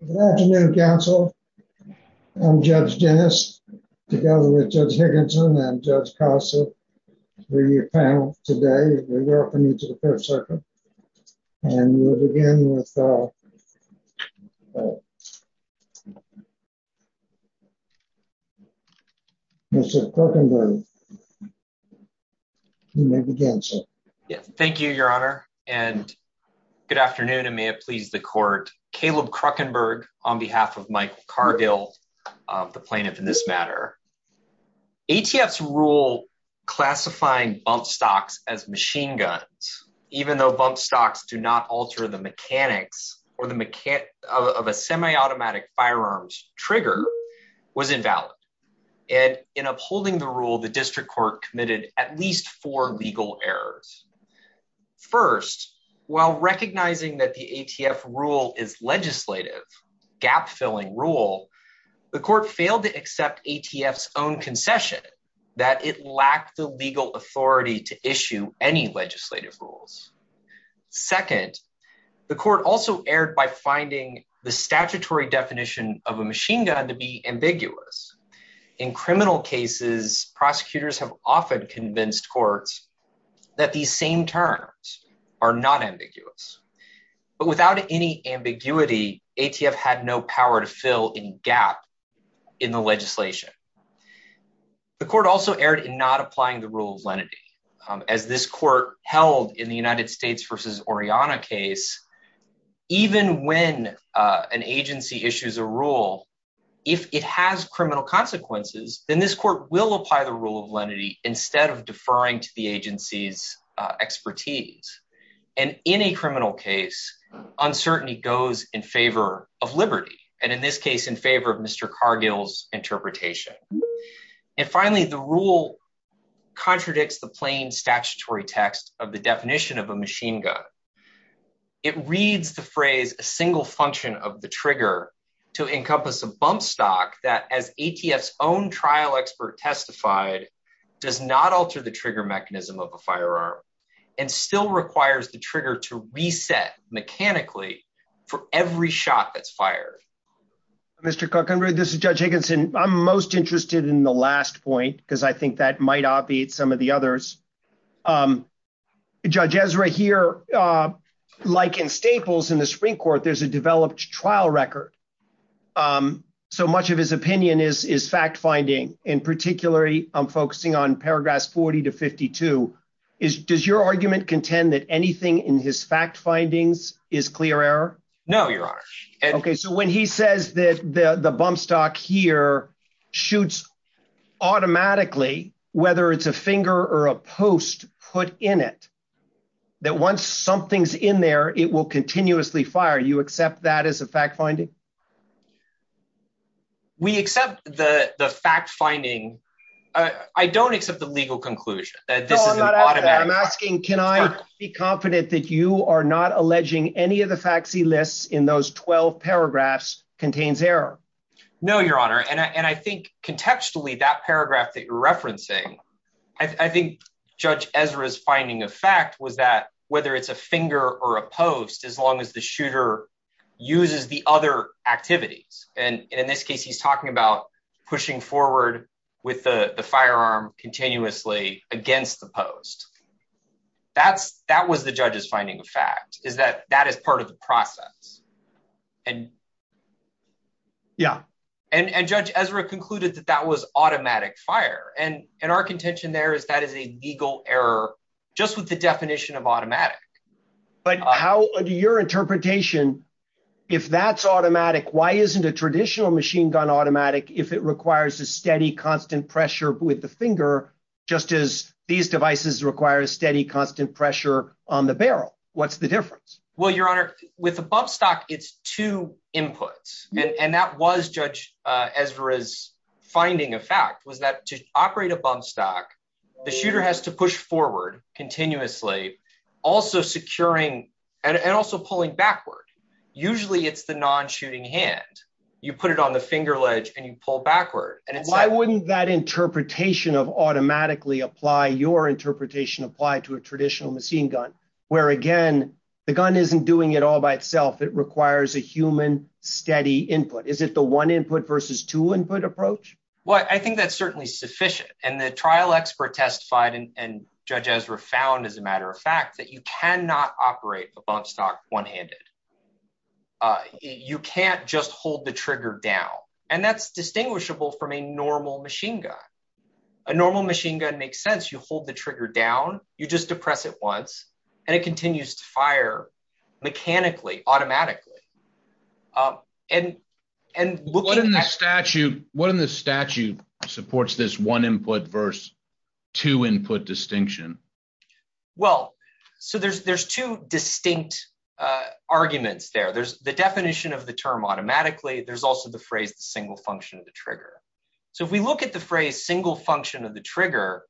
Good afternoon, counsel. I'm Judge Dennis, together with Judge Higginson and Judge Costa, three of your panelists today, and we're welcoming you to the Fifth Circuit. And we'll begin with Mr. Kruckenberg. You may begin, sir. Yes, thank you, Your Honor, and good afternoon, and may it please the Court. Caleb Kruckenberg on behalf of Michael Cargill, the plaintiff in this matter. ATF's rule classifying bump stocks as machine guns, even though bump stocks do not alter the mechanics of a semi-automatic firearms trigger, was invalid. And in upholding the rule, the District Court committed at least four legal errors. First, while recognizing that the ATF rule is legislative, gap-filling rule, the Court failed to accept ATF's own concession, that it lacked the legal authority to issue any legislative rules. Second, the Court also erred by finding the statutory definition of a machine gun to be ambiguous. In criminal cases, prosecutors have often convinced courts that these same terms are not ambiguous. But without any ambiguity, ATF had no power to fill any gap in the legislation. The Court also erred in not applying the rule of lenity. As this Court held in the United States v. Oriana case, even when an agency issues a rule, if it has criminal consequences, then this Court will apply the rule of lenity instead of deferring to the agency's expertise. And in a criminal case, uncertainty goes in favor of liberty, and in this case, in favor of Mr. Cargill's interpretation. And finally, the rule contradicts the plain statutory text of the definition of a machine gun. It reads the phrase, a single function of the trigger, to encompass a bump stock that, as ATF's trial expert testified, does not alter the trigger mechanism of a firearm, and still requires the trigger to reset mechanically for every shot that's fired. Mr. Kukunru, this is Judge Higginson. I'm most interested in the last point, because I think that might obviate some of the others. Judge Ezra here, like in Staples in the in particular, I'm focusing on paragraphs 40 to 52. Does your argument contend that anything in his fact findings is clear error? No, Your Honor. Okay, so when he says that the bump stock here shoots automatically, whether it's a finger or a post put in it, that once something's in there, it will continuously fire, you accept that as a fact finding? We accept the fact finding. I don't accept the legal conclusion that this is an automatic fact. I'm asking, can I be confident that you are not alleging any of the facts he lists in those 12 paragraphs contains error? No, Your Honor, and I think contextually that paragraph that you're referencing, I think Judge Ezra's finding of fact was that whether it's a finger or a post, as long as the shooter uses the other activities, and in this case, he's talking about pushing forward with the firearm continuously against the post. That was the judge's finding of fact, is that that is part of the process. And Judge Ezra concluded that that was automatic fire, and our contention there is that is a legal error just with the definition of automatic. But how do your interpretation, if that's automatic, why isn't a traditional machine gun automatic if it requires a steady constant pressure with the finger, just as these devices require a steady constant pressure on the barrel? What's the difference? Well, Your Honor, with a bump stock, it's two inputs. And that was Judge Ezra's finding of was that to operate a bump stock, the shooter has to push forward continuously, also securing and also pulling backward. Usually it's the non-shooting hand. You put it on the finger ledge and you pull backward. Why wouldn't that interpretation of automatically apply, your interpretation applied to a traditional machine gun, where again, the gun isn't doing it all by itself. It requires a human steady input. Is it the one input versus two input approach? Well, I think that's certainly sufficient. And the trial expert testified and Judge Ezra found, as a matter of fact, that you cannot operate a bump stock one handed. You can't just hold the trigger down. And that's distinguishable from a normal machine gun. A normal machine gun makes sense. You hold the trigger down, you just depress it once, and it continues to fire automatically. What in the statute supports this one input versus two input distinction? Well, so there's two distinct arguments there. There's the definition of the term automatically. There's also the phrase, the single function of the trigger. So if we look at the phrase, single function of the trigger,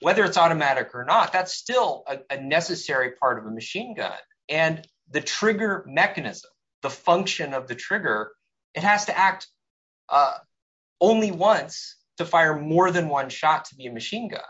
whether it's automatic or not, that's still a necessary part of a machine gun. And the trigger mechanism, the function of the trigger, it has to act only once to fire more than one shot to be a machine gun.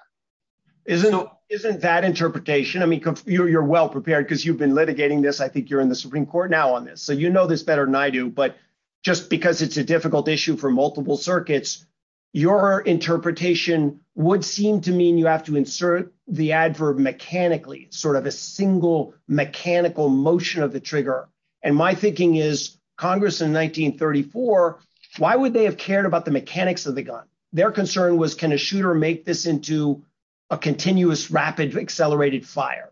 Isn't that interpretation? I mean, you're well prepared because you've been litigating this. I think you're in the Supreme Court now on this. So you know this better than I do. But just because it's a difficult issue for multiple circuits, your interpretation would seem to mean you have to insert the adverb mechanically, sort of a single mechanical motion of the trigger. And my thinking is, Congress in 1934, why would they have cared about the mechanics of the gun? Their concern was, can a shooter make this into a continuous, rapid, accelerated fire?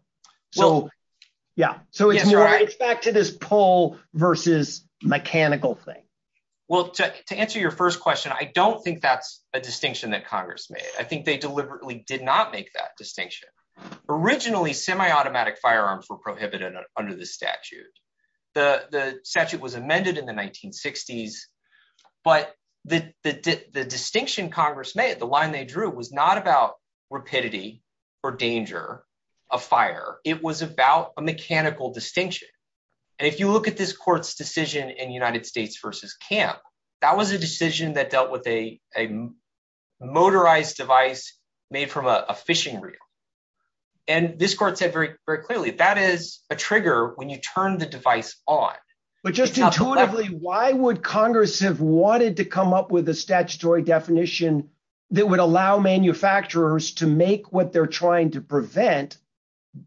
Yeah. So it's back to this pull versus mechanical thing. Well, to answer your first question, I don't think that's a distinction that Congress made. I think they deliberately did not make that distinction. Originally, semi-automatic firearms were prohibited under the statute. The statute was amended in the 1960s. But the distinction Congress made, the line they drew, was not about rapidity or danger of fire. It was about a mechanical distinction. And if you look at this court's decision in United States versus camp, that was a decision that dealt with a motorized device made from a fishing reel. And this court said very clearly, that is a trigger when you turn the device on. But just intuitively, why would Congress have wanted to come up with a statutory definition that would allow manufacturers to make what they're trying to prevent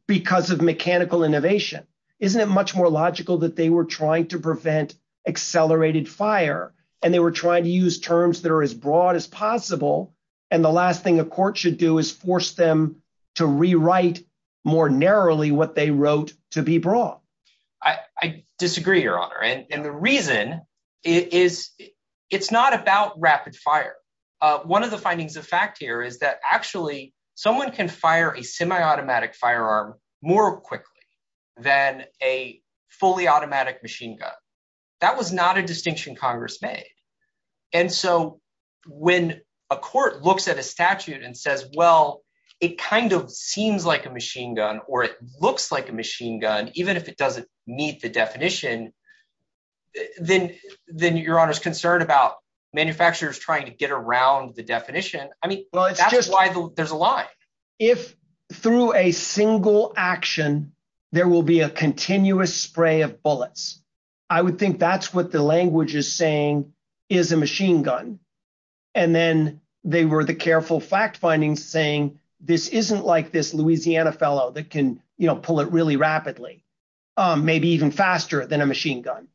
because of mechanical innovation? Isn't it much more logical that they were trying to prevent accelerated fire? And they were trying to use terms that are as broad as possible. And the last thing a court should do is force them to rewrite more narrowly what they wrote to be broad. I disagree, Your Honor. And the reason is, it's not about rapid fire. One of the findings of fact here is that actually, someone can fire a semi-automatic firearm more quickly than a fully automatic machine gun. That was not a distinction Congress made. And so when a court looks at a statute and says, well, it kind of seems like a machine gun, or it looks like a machine gun, even if it doesn't meet the definition, then Your Honor's concerned about manufacturers trying to get around the definition. I mean, that's why there's a lie. If through a single action, there will be a continuous spray of bullets. I would think that's what the language is saying is a machine gun. And then they were the careful fact findings saying, this isn't like this Louisiana fellow that can pull it really rapidly, maybe even faster than a machine gun.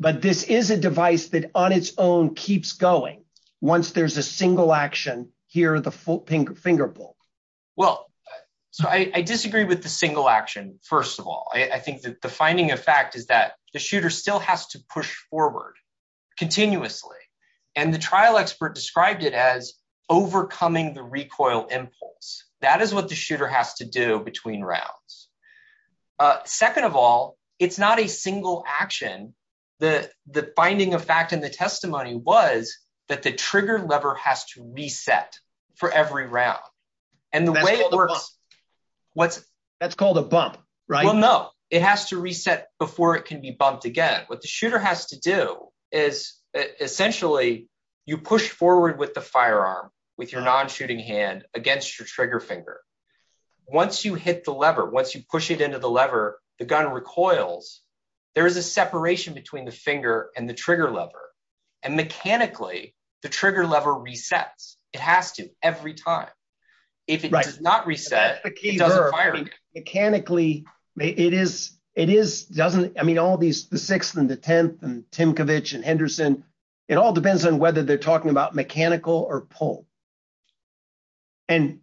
But this is a device that on its own keeps going. Once there's a single action here, the finger pull. Well, so I disagree with the single action. First of all, I think that the finding of fact is that the shooter still has to push forward continuously. And the trial expert described it as overcoming the recoil impulse. That is what the shooter has to do between rounds. A second of all, it's not a single action. The finding of fact in the testimony was that the trigger lever has to reset for every round. And the way it works, what's that's called a bump, right? Well, no, it has to reset before it can be bumped again. What the shooter has to do is essentially, you push forward with the firearm with your non-shooting hand against your trigger finger. Once you hit the lever, once you push it into the lever, the gun recoils, there is a separation between the finger and the trigger lever. And mechanically, the trigger lever resets. It has to every time. If it does not reset, mechanically, it is, it is doesn't, I mean, all these, the sixth and the 10th and Timkovich and Henderson, it all depends on whether they're talking about mechanical or pull. And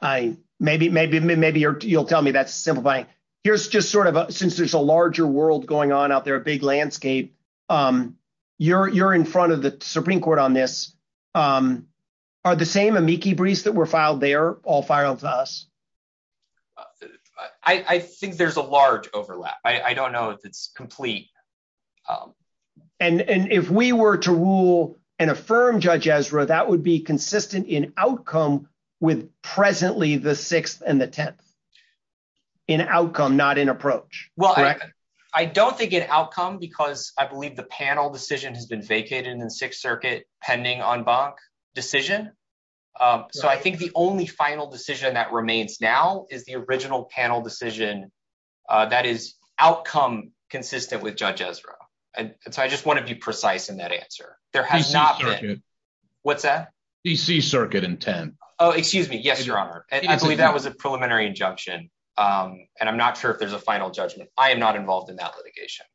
I, maybe, maybe, maybe you'll tell me that's simplifying. Here's just sort of a, since there's a larger world going on out there, a big landscape, you're, you're in front of the Supreme Court on this. Are the same amici briefs that were filed there all firearms to us? I think there's a large overlap. I don't know if it's complete. Um, and, and if we were to rule and affirm judge Ezra, that would be consistent in outcome with presently the sixth and the 10th in outcome, not in approach. Well, I don't think it outcome because I believe the panel decision has been vacated in the sixth circuit pending on bunk decision. Um, so I think the only final decision that remains now is the Ezra. And so I just want to be precise in that answer. There has not been what's that DC circuit in 10. Oh, excuse me. Yes, your honor. And I believe that was a preliminary injunction. Um, and I'm not sure if there's a final judgment. I am not involved in that litigation.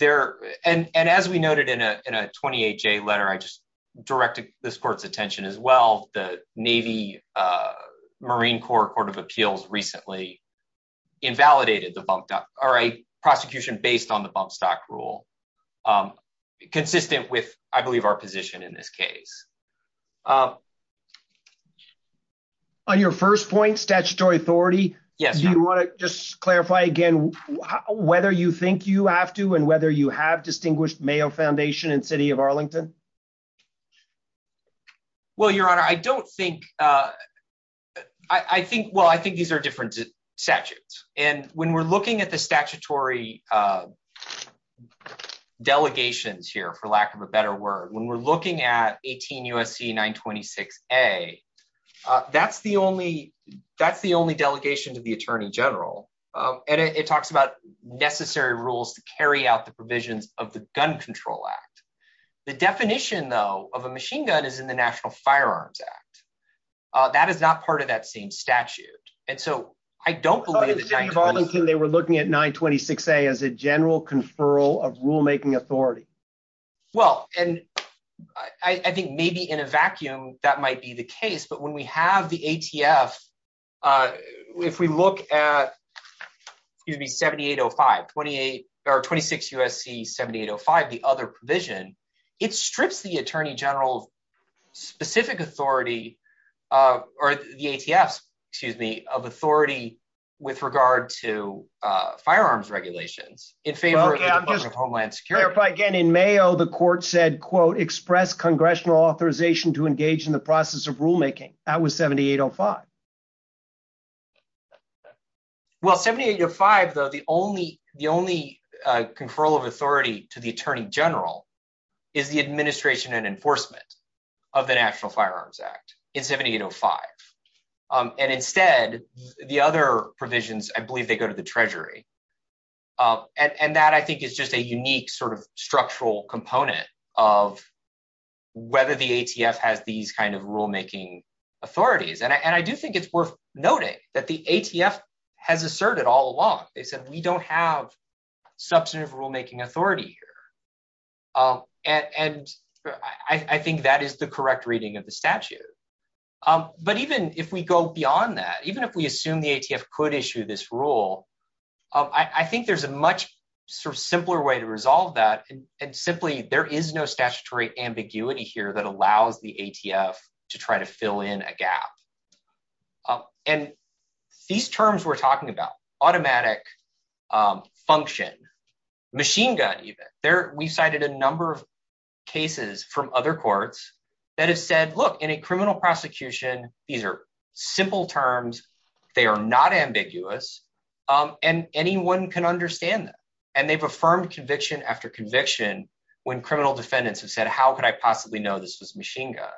There. And, and as we noted in a, in a 28 J letter, I just directed this court's attention as well. The Navy, uh, Marine Corps court of appeals recently invalidated the bump doc or a prosecution based on the bump stock rule, um, consistent with, I believe our position in this case. Um, On your first point, statutory authority. Yes. Do you want to just clarify again, whether you think you have to, and whether you have distinguished Mayo foundation and city of Arlington? Well, your honor, I don't think, uh, I think, well, I think these are different statutes and when we're looking at the statutory, uh, delegations here, for lack of a better word, when we're looking at 18 USC, nine 26, a, uh, that's the only, that's the only delegation to the attorney general. Um, and it talks about necessary rules to carry out the provisions of the gun control act. The definition though, of a machine gun is in the national firearms act. Uh, that is not part of that same statute. And so I don't believe that they were looking at nine 26 a as a general conferral of rulemaking authority. Well, and I think maybe in a vacuum that might be the case, but when we have the ATF, uh, if we look at, excuse me, 7,805, 28, or 26 USC, 7,805, the other provision, it strips the attorney general specific authority, uh, or the ATF, excuse me, of authority with regard to, uh, firearms regulations in favor of homeland security. Again, in Mayo, the court said, quote, express congressional authorization to engage in the process of rulemaking. That was 7,805. Well, 7,805 though, the only, the only, uh, conferral of authority to the attorney general is the administration and enforcement of the national firearms act in 7,805. Um, and instead, the other provisions, I believe they go to the treasury. Um, and, and that I think is just a unique sort of structural component of whether the ATF has these kinds of rulemaking authorities. And I, and I do think it's worth noting that the ATF has asserted all along. They said, we don't have substantive rulemaking authority here. Um, and, and I think that is the correct reading of the statute. Um, but even if we go beyond that, even if we assume the ATF could issue this rule, um, I think there's a much sort of simpler way to resolve that. And simply there is no statutory ambiguity here that allows the ATF to try to fill in a gap. Um, and these terms we're talking about automatic, um, function machine gun, even there, we cited a number of cases from other courts that have said, look in a criminal prosecution, these are simple terms. They are not ambiguous. Um, and anyone can understand that. And they've affirmed conviction after conviction when criminal defendants have said, how could I possibly know this was machine gun?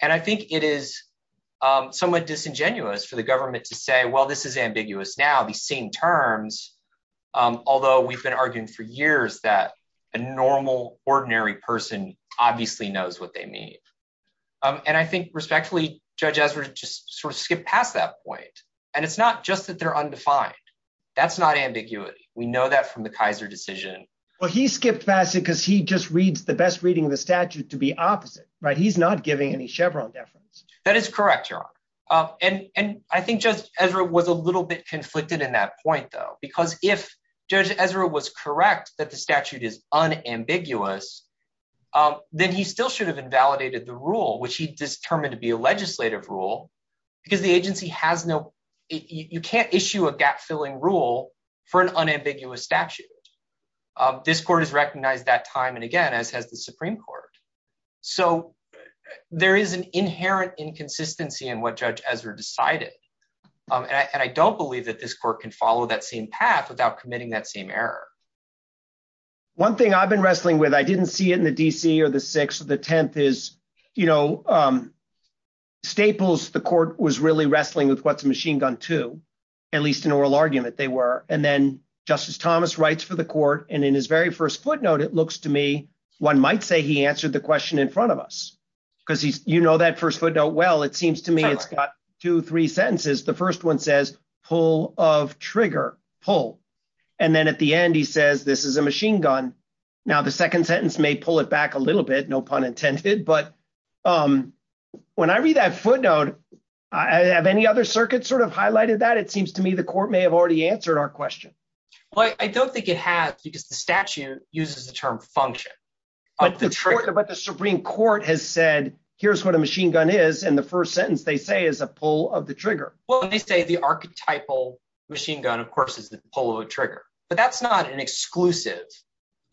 And I think it is, um, somewhat disingenuous for the government to say, well, this is ambiguous now, these same terms. Um, although we've been arguing for years that a normal ordinary person obviously knows what they mean. Um, and I think respectfully, Judge Ezra just sort of skipped past that point. And it's not just that they're undefined. That's not ambiguity. We know that from the Kaiser decision. Well, he skipped past it because he just reads the best reading of the statute to be opposite, right? He's not giving any Chevron deference. That is correct, Your Honor. Um, and, and I think Judge Ezra was a little bit conflicted in that point though, because if Judge Ezra was correct that the statute is unambiguous, um, then he still should have invalidated the rule, which he determined to be a legislative rule because the agency has no, you can't issue a gap filling rule for an unambiguous statute. Um, this court has recognized that time and again, as has the Supreme Court. So there is an inherent inconsistency in what Judge Ezra decided. Um, and I, and I don't believe that this court can follow that same path without committing that same error. One thing I've been wrestling with, I didn't see it in the DC or the sixth or the 10th is, you know, um, Staples, the court was really wrestling with what's a machine gun too, at least in oral argument they were. And then Justice Thomas writes for the court. And in his very first footnote, it looks to me, one might say he answered the question in front of us because he's, you know, that first footnote, well, it seems to me it's got two, three sentences. The first one says pull of trigger pull. And then at the end, he says, this is a machine gun. Now the second sentence may pull it back a little bit, no pun intended, but, um, when I read that footnote, I have any other circuits sort of highlighted that it seems to me the court may have already answered our question. Well, I don't think it has because the statute uses the term function. But the Supreme Court has said, here's what a machine gun is. And the first sentence they say is a pull of the trigger. Well, they say the archetypal machine gun, of course, is the pull of a trigger, but that's not an exclusive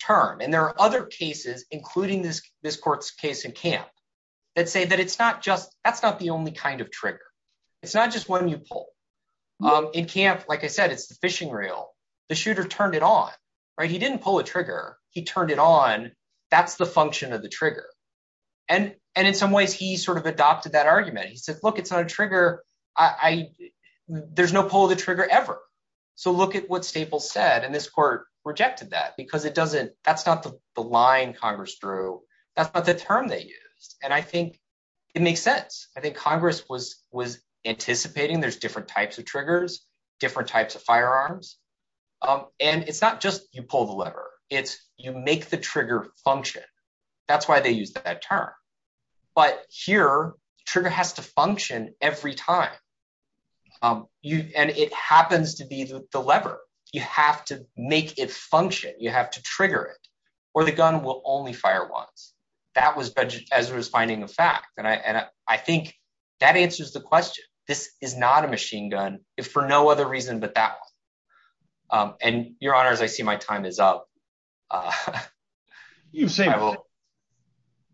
term. And there are other cases, including this court's case in camp that say that it's not just, that's not the only kind of trigger. It's not just when you pull. Um, in camp, like I said, it's the fishing reel, the shooter turned it on, right? He didn't pull a trigger. He turned it on. That's the function of the trigger. And, and in some ways he sort of adopted that argument. He looked at what Staples said and this court rejected that because it doesn't, that's not the line Congress drew. That's not the term they used. And I think it makes sense. I think Congress was, was anticipating there's different types of triggers, different types of firearms. Um, and it's not just you pull the lever, it's you make the trigger function. That's why they use that term. But here trigger has to function every time. Um, you, and it happens to be the lever. You have to make it function. You have to trigger it or the gun will only fire once. That was budget as it was finding the fact. And I, and I think that answers the question. This is not a machine gun if for no other reason, but that, um, and your honors, I see my time is up. Uh,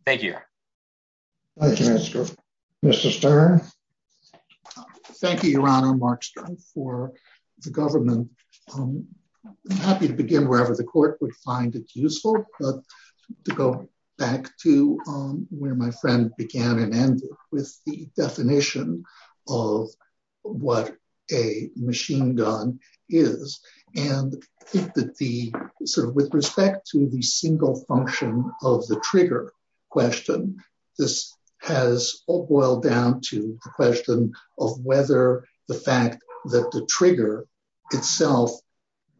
thank you. Mr. Stern. Thank you, your honor, Mark Stern for the government. I'm happy to begin wherever the court would find it useful, but to go back to, um, where my friend began and ended with the definition of what a machine gun is. And I think that the sort of, with respect to the single function of the trigger question, this has boiled down to the question of whether the fact that the trigger itself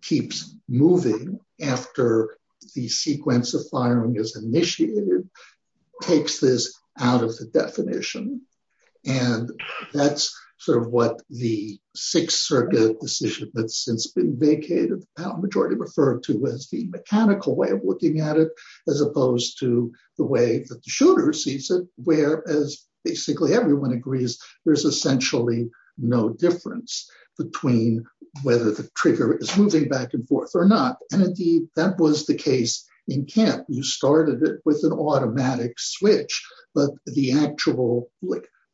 keeps moving after the sequence of firing is initiated, takes this out of the definition. And that's sort of what the sixth circuit decision that's since been vacated, majority referred to as the mechanical way of looking at it, as opposed to the way that the shooter sees it, where as basically everyone agrees, there's essentially no difference between whether the trigger is moving back and forth or not. And indeed that was the case in camp. You started it with an automatic switch, but the actual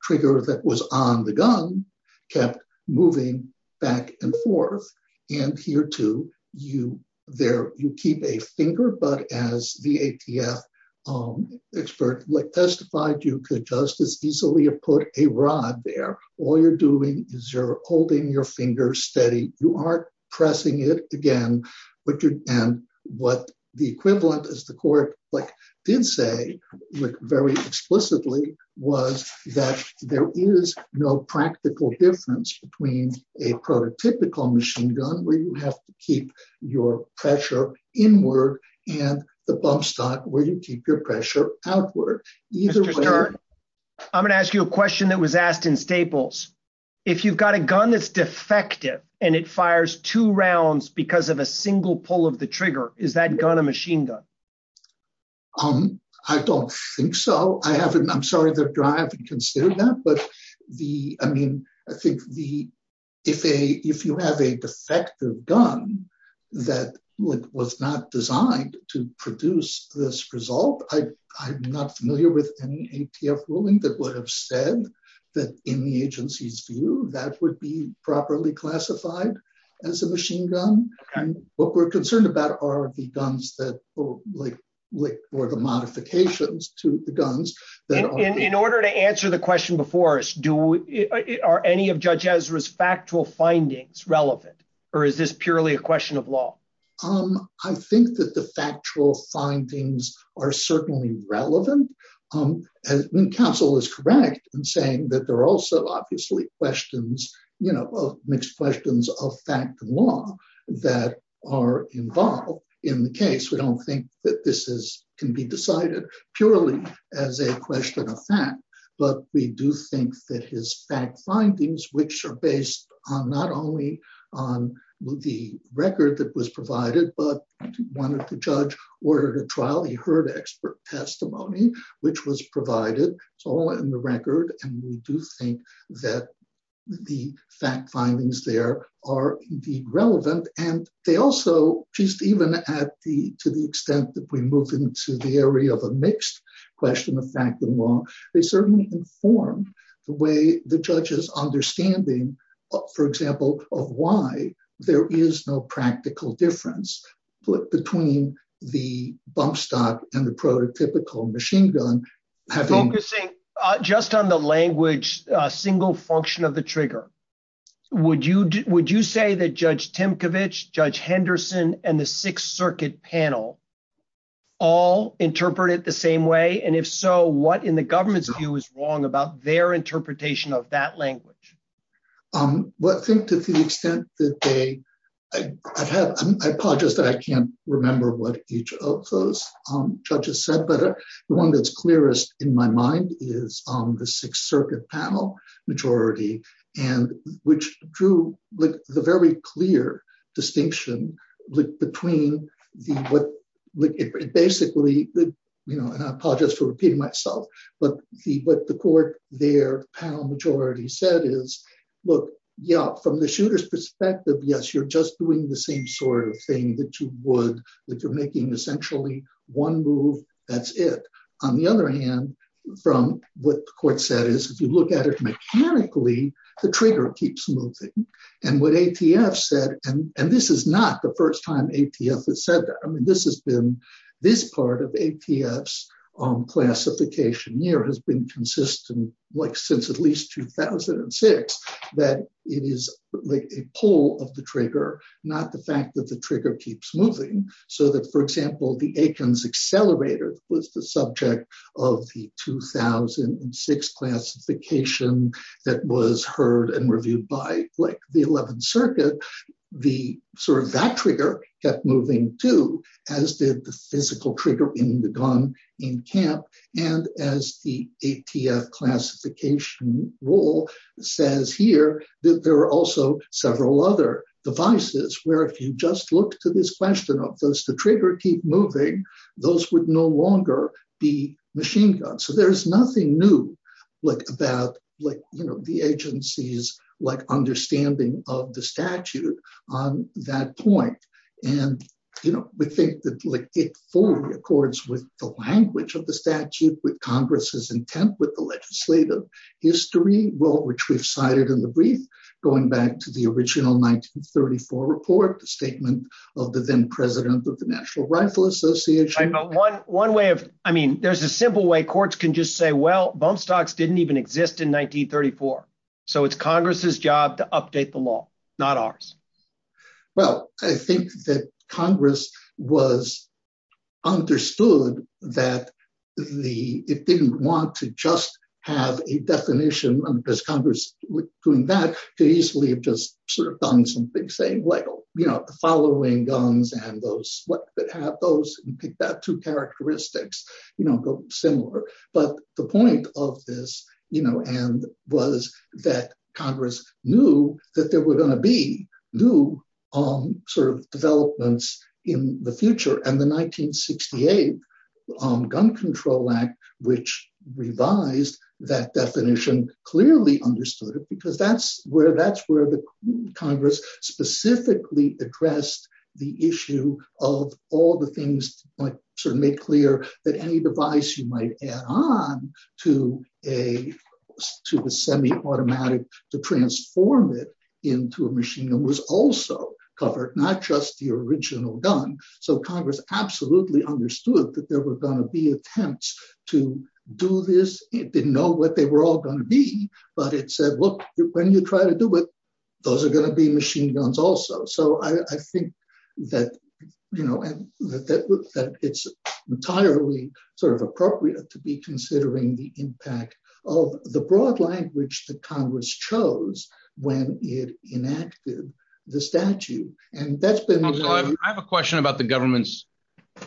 trigger that was on the gun kept moving back and forth. And here too, you there, you keep a finger, but as the ATF expert testified, you could just as easily have put a rod there. All you're doing is you're holding your finger steady. You aren't pressing it again, and what the equivalent as the court did say very explicitly was that there is no practical difference between a prototypical machine gun where you have to keep your pressure inward and the bump stock where you keep your pressure outward. Mr. Stern, I'm going to ask you a question that was asked in Staples. If you've got a gun that's defective and it fires two rounds because of a single pull of the trigger, is that gun a machine gun? I don't think so. I haven't, I'm sorry that I haven't considered that, but the, I mean, I think the, if a, if you have a defective gun that was not designed to produce this result, I'm not familiar with any ATF ruling that would have said that in the agency's view, that would be properly classified as a machine gun. What we're concerned about are the guns that like, like, or the modifications to the guns. In order to answer the question before us, do, are any of Judge Ezra's factual findings relevant, or is this purely a question of law? I think that the factual findings are certainly relevant. And counsel is correct in saying that there are also obviously questions, you know, mixed questions of fact and law that are involved in the case. We don't think that this is, can be decided purely as a question of fact, but we do think that his fact findings, which are based on not only on the record that was provided, but wanted to judge, ordered a trial, he heard expert testimony, which was provided, it's all in the record. And we do think that the fact findings there are indeed relevant. And they also, just even at the, to the extent that we move into the area of a mixed question of fact and law, they certainly inform the way the judge's understanding, for example, of why there is no practical difference between the bump stock and the prototypical machine gun. Focusing just on the language, a single function of the trigger, would you say that Judge Timkovich, Judge Henderson, and the Sixth Circuit panel all interpret it the same way? And if so, what in the government's view is wrong about their interpretation of that language? Well, I think to the extent that they, I've had, I apologize that I can't remember what each of those judges said, but the one that's clearest in my mind is the Sixth Circuit panel majority, and which drew the very clear distinction between the, basically, you know, and I apologize for repeating myself, but the, what the court, their panel majority said is, look, yeah, from the shooter's perspective, yes, you're just doing the same sort of thing that you would, that you're making essentially one move, that's it. On the other hand, from what the court said is, if you look at it mechanically, the trigger keeps moving. And what ATF said, and this is not the first time ATF has said that, I mean, this has been consistent, like, since at least 2006, that it is like a pull of the trigger, not the fact that the trigger keeps moving. So that, for example, the Aikens Accelerator was the subject of the 2006 classification that was heard and reviewed by, like, the Eleventh Circuit. The, sort of, that trigger kept moving too, as did the physical trigger in the gun in camp. And as the ATF classification rule says here, that there are also several other devices where, if you just look to this question of, does the trigger keep moving, those would no longer be machine guns. So there's nothing new, like, about, like, you know, the agency's, like, understanding of the statute on that point. And, you know, we think that, like, it fully accords with the language of the statute, with Congress's intent, with the legislative history, well, which we've cited in the brief, going back to the original 1934 report, the statement of the then president of the National Rifle Association. One way of, I mean, there's a simple way courts can just say, well, bump stocks didn't even exist in 1934. So it's Congress's job to update the law, not ours. Well, I think that Congress was understood that the, it didn't want to just have a definition, because Congress was doing that, to easily have just, sort of, done something saying, well, you know, the following guns and those, what have those, and pick that two characteristics, you know, go similar. But the point of this, you know, and was that Congress knew that there would be new, sort of, developments in the future. And the 1968 Gun Control Act, which revised that definition, clearly understood it, because that's where the Congress specifically addressed the issue of all the things, like, sort of, make clear that any device you might add on to a, to the semi-automatic, to transform it into a machine gun was also covered, not just the original gun. So Congress absolutely understood that there were going to be attempts to do this. It didn't know what they were all going to be. But it said, well, when you try to do it, those are going to be machine guns also. So I think that, you know, and that it's entirely, sort of, appropriate to be considering the impact of the broad language that Congress chose when it enacted the statute. And that's been- I have a question about the government's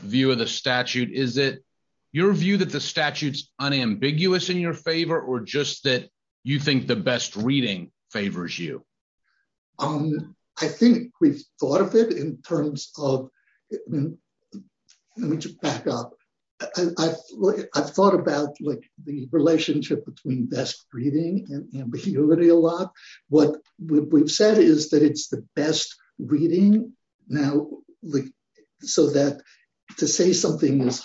view of the statute. Is it your view that the statute's unambiguous in your favor, or just that you think the best reading favors you? I think we've thought of it in terms of, and let me just back up. I've thought about, like, the relationship between best reading and ambiguity a lot. What we've said is that it's the best reading now, like, so that to say something is-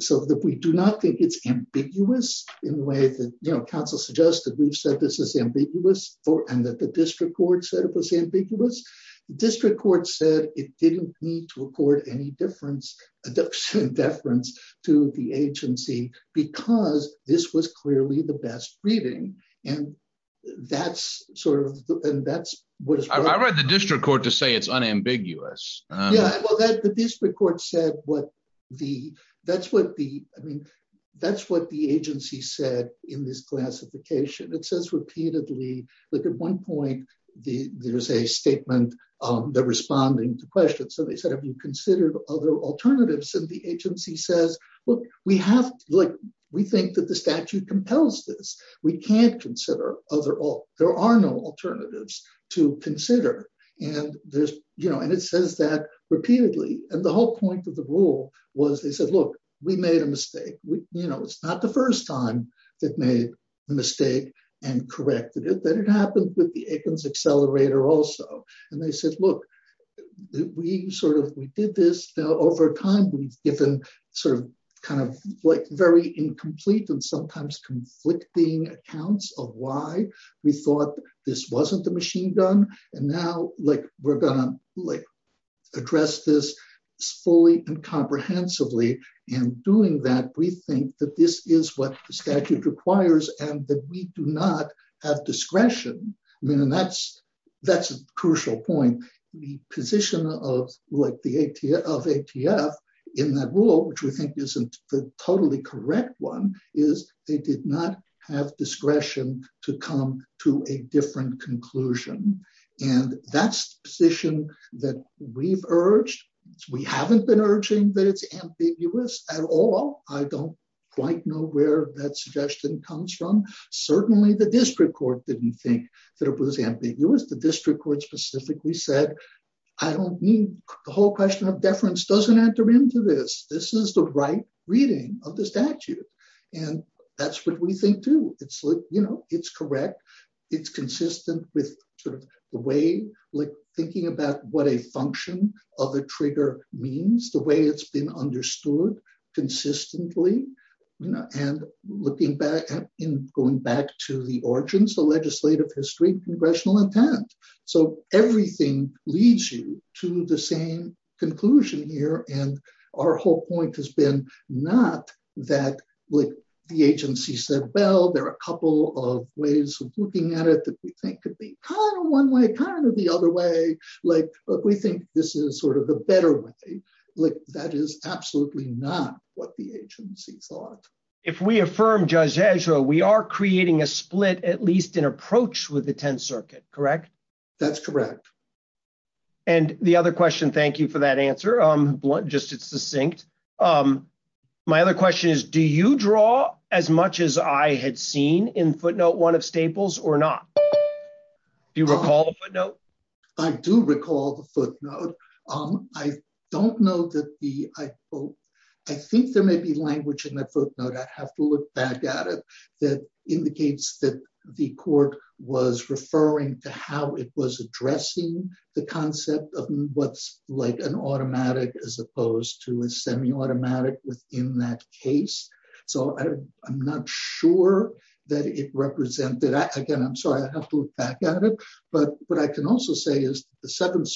so that we do not think it's ambiguous in the way that, you know, counsel suggests that we've said this is ambiguous, and that the district court said it was ambiguous. The district court said it didn't need to record any deference to the agency, because this was clearly the best reading. And that's sort of- I read the district court to say it's unambiguous. Yeah, well, the district court said what the- that's what the, I mean, that's what the agency said in this classification. It says repeatedly, like, at one point, there's a statement, they're responding to questions. So they said, have you considered other alternatives? And the agency says, look, we have, like, we think that the statute compels this. We can't consider other- there are no alternatives to consider. And there's, you know, and it says that repeatedly. And the whole point of the rule was, they said, look, we made a mistake. You know, it's not the first time that made a mistake, and corrected it, that it happened with the Aikens accelerator also. And they said, look, we sort of, we did this over time, we've given sort of kind of, like, very incomplete and sometimes conflicting accounts of why we thought this wasn't the machine gun. And now, like, we're gonna, like, address this fully and this is what the statute requires, and that we do not have discretion. I mean, and that's, that's a crucial point. The position of, like, the ATF, of ATF, in that rule, which we think isn't the totally correct one, is they did not have discretion to come to a different conclusion. And that's the position that we've urged. We haven't been urging that it's ambiguous at all. I don't quite know where that suggestion comes from. Certainly, the district court didn't think that it was ambiguous. The district court specifically said, I don't need, the whole question of deference doesn't enter into this. This is the right reading of the statute. And that's what we think, too. It's, you know, it's correct. It's consistent with sort of the way, like, thinking about what a function of a trigger means, the way it's been understood, consistently, you know, and looking back, in going back to the origins, the legislative history, congressional intent. So everything leads you to the same conclusion here. And our whole point has been not that, like, the agency said, well, there are a couple of ways of looking at it that we think could be kind of one way, kind of the other way, like, but we think this is sort of the better way. Like, that is absolutely not what the agency thought. If we affirm Judge Ezra, we are creating a split, at least in approach with the Tenth Circuit, correct? That's correct. And the other question, thank you for that answer. Just, it's succinct. My other question is, do you draw as much as I had seen in footnote one of Staples or not? Do you recall the footnote? I do recall the don't know that the, I think there may be language in that footnote, I have to look back at it, that indicates that the court was referring to how it was addressing the concept of what's like an automatic as opposed to a semi-automatic within that case. So I'm not sure that it represented, again, I'm sorry, I have to look back at it. But what I can also say is the Seventh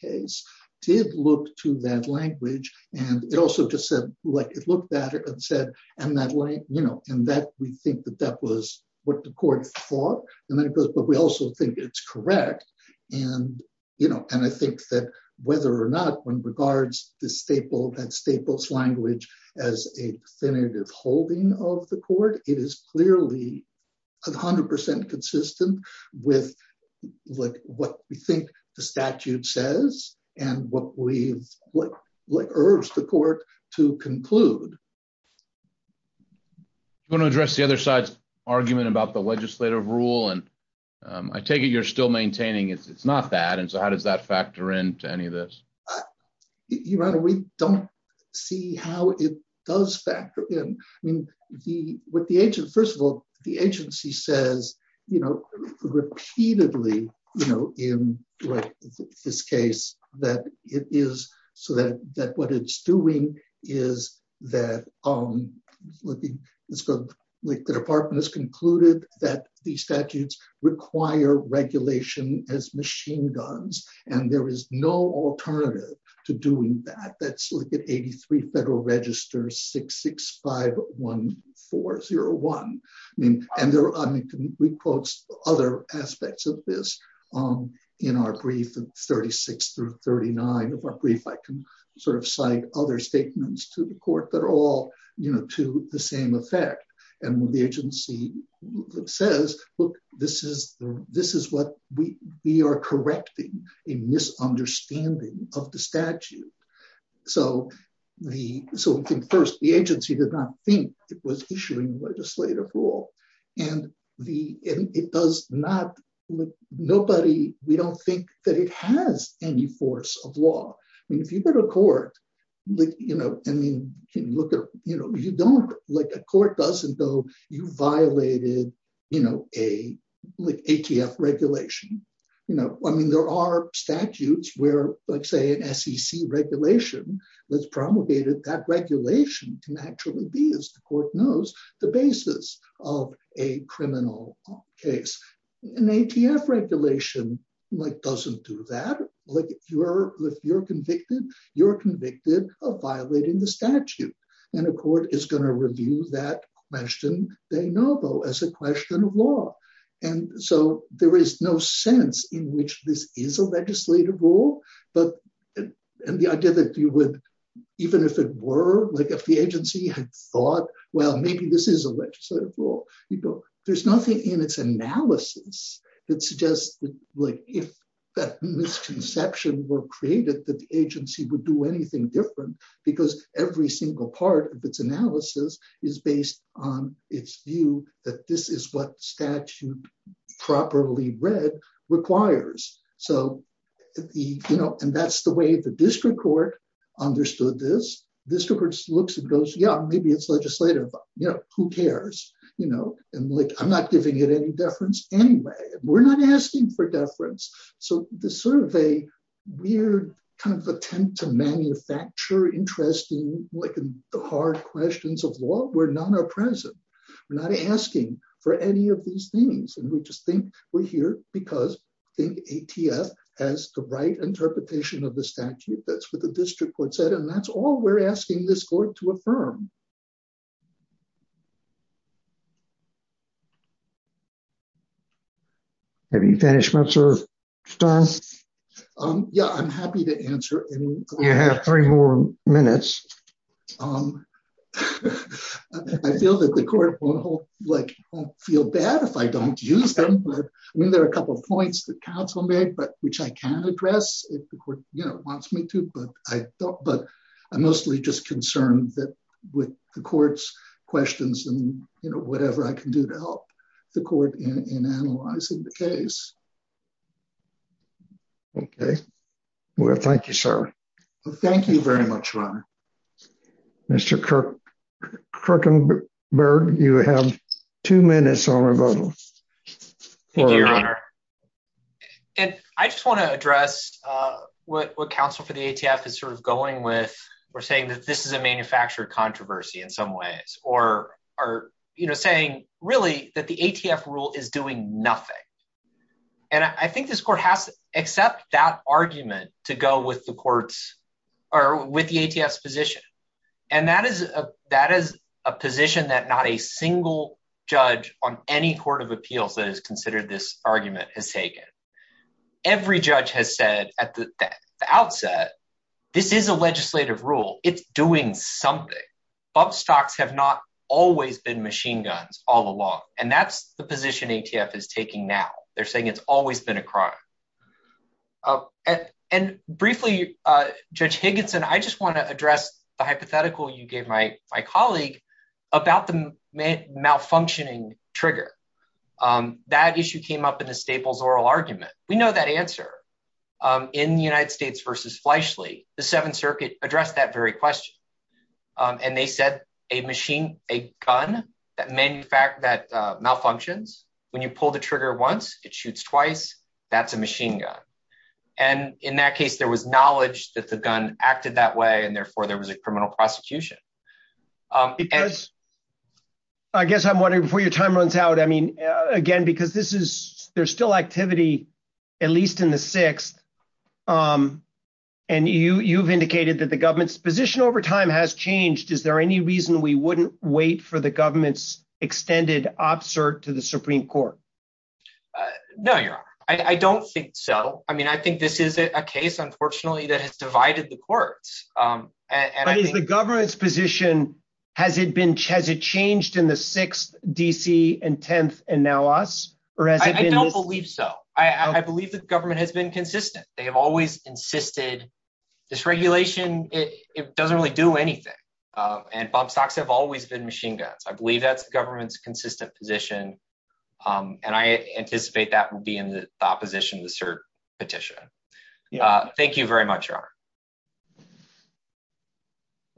case did look to that language. And it also just said, like, it looked at it and said, and that, you know, and that we think that that was what the court thought. And then it goes, but we also think it's correct. And, you know, and I think that whether or not one regards the staple, that staples language as a definitive holding of the court, it is clearly 100% consistent with what we think the statute says, and what we've, what urged the court to conclude. Do you want to address the other side's argument about the legislative rule? And I take it you're still maintaining it's not that. And so how does that factor into any of this? Your Honor, we don't see how it does factor in. I mean, the, with the agent, first of all, the agency says, you know, repeatedly, you know, in this case, that it is so that that what it's doing is that, um, let's go, like, the department has concluded that the statutes require regulation as machine guns. And there is no alternative to doing that. That's look at 83 Federal Register 6651401. I mean, and there are, I mean, we quotes other aspects of this, um, in our brief of 36 through 39 of our brief, I can sort of cite other statements to the court that are all, you know, to the same effect. And when the agency says, look, this is the this is what we we are correcting a misunderstanding of the statute. So the so first, the agency did not think it was issuing legislative rule. And the it does not look nobody, we don't think that it has any force of law. I mean, if you've got a court, like, you know, I mean, can you look at, you know, you don't like court doesn't go, you violated, you know, a ATF regulation, you know, I mean, there are statutes where, let's say an SEC regulation was promulgated, that regulation can actually be, as the court knows, the basis of a criminal case, an ATF regulation, like doesn't do that, like you're, if you're convicted, you're convicted of violating the statute, and the court is going to review that question, they know, though, as a question of law. And so there is no sense in which this is a legislative rule. But the idea that you would, even if it were like if the agency had thought, well, maybe this is a legislative rule, you go, there's nothing in its analysis that suggests that, like, if that misconception were created, that the agency would do anything different, because every single part of its analysis is based on its view that this is what statute properly read requires. So the, you know, and that's the way the district court understood this district looks and goes, Yeah, maybe it's legislative, you know, who cares, you know, and like, I'm not giving it any deference. Anyway, we're not asking for deference. So this sort of a weird kind of attempt to manufacture interesting, like, hard questions of law where none are present. We're not asking for any of these things. And we just think we're here because think ATF has the right interpretation of the statute that's what the district court said. And that's all we're asking this court to affirm. Have you finished? Yeah, I'm happy to answer. You have three more minutes. I feel that the court won't feel bad if I don't use them. I mean, there are a couple of points that counsel made, but which I can address if the court, you know, wants me to, but I'm mostly just concerned that with the court's questions and, you know, whatever I can do to help the court in analyzing the case. Okay. Well, thank you, sir. Thank you very much, Ron. Mr. Kirk, Kirk and Bird, you have two minutes on our vote. Thank you, Your Honor. And I just want to address what counsel for the ATF is sort of going with, we're saying that this is a manufactured controversy in some ways, or are, you know, saying really that the ATF rule is doing nothing. And I think this court has to accept that argument to go with the courts or with the ATF's position. And that is a position that not a single judge on any court of appeals that has considered this argument has taken. Every judge has said at the outset, this is a legislative rule. It's doing something. Bump stocks have not always been machine guns all along. And that's the position ATF is taking now. They're saying it's always been a crime. And briefly, Judge Higginson, I just want to address the hypothetical you gave my colleague about the malfunctioning trigger. That issue came up in the Staples oral argument. We know that answer. In the United States versus Fleishley, the Seventh Circuit addressed that very question. And they said a machine, a gun that malfunctions, when you pull the trigger once, it shoots twice, that's a machine gun. And in that case, there was knowledge that the gun acted that way. And therefore, there was a criminal prosecution. I guess I'm wondering, before your time runs out, I mean, again, because this is, there's still activity, at least in the sixth. And you've indicated that the government's position over time has changed. Is there any reason we wouldn't wait for the government's extended absurd to the Supreme Court? No, Your Honor, I don't think so. I mean, this is a case, unfortunately, that has divided the courts. But is the government's position, has it changed in the sixth, D.C., and tenth, and now us? I don't believe so. I believe the government has been consistent. They have always insisted this regulation, it doesn't really do anything. And Bob Sox have always been machine guns. I believe that's the government's consistent position. And I anticipate that will be in the opposition to the cert petition. Thank you very much, Your Honor.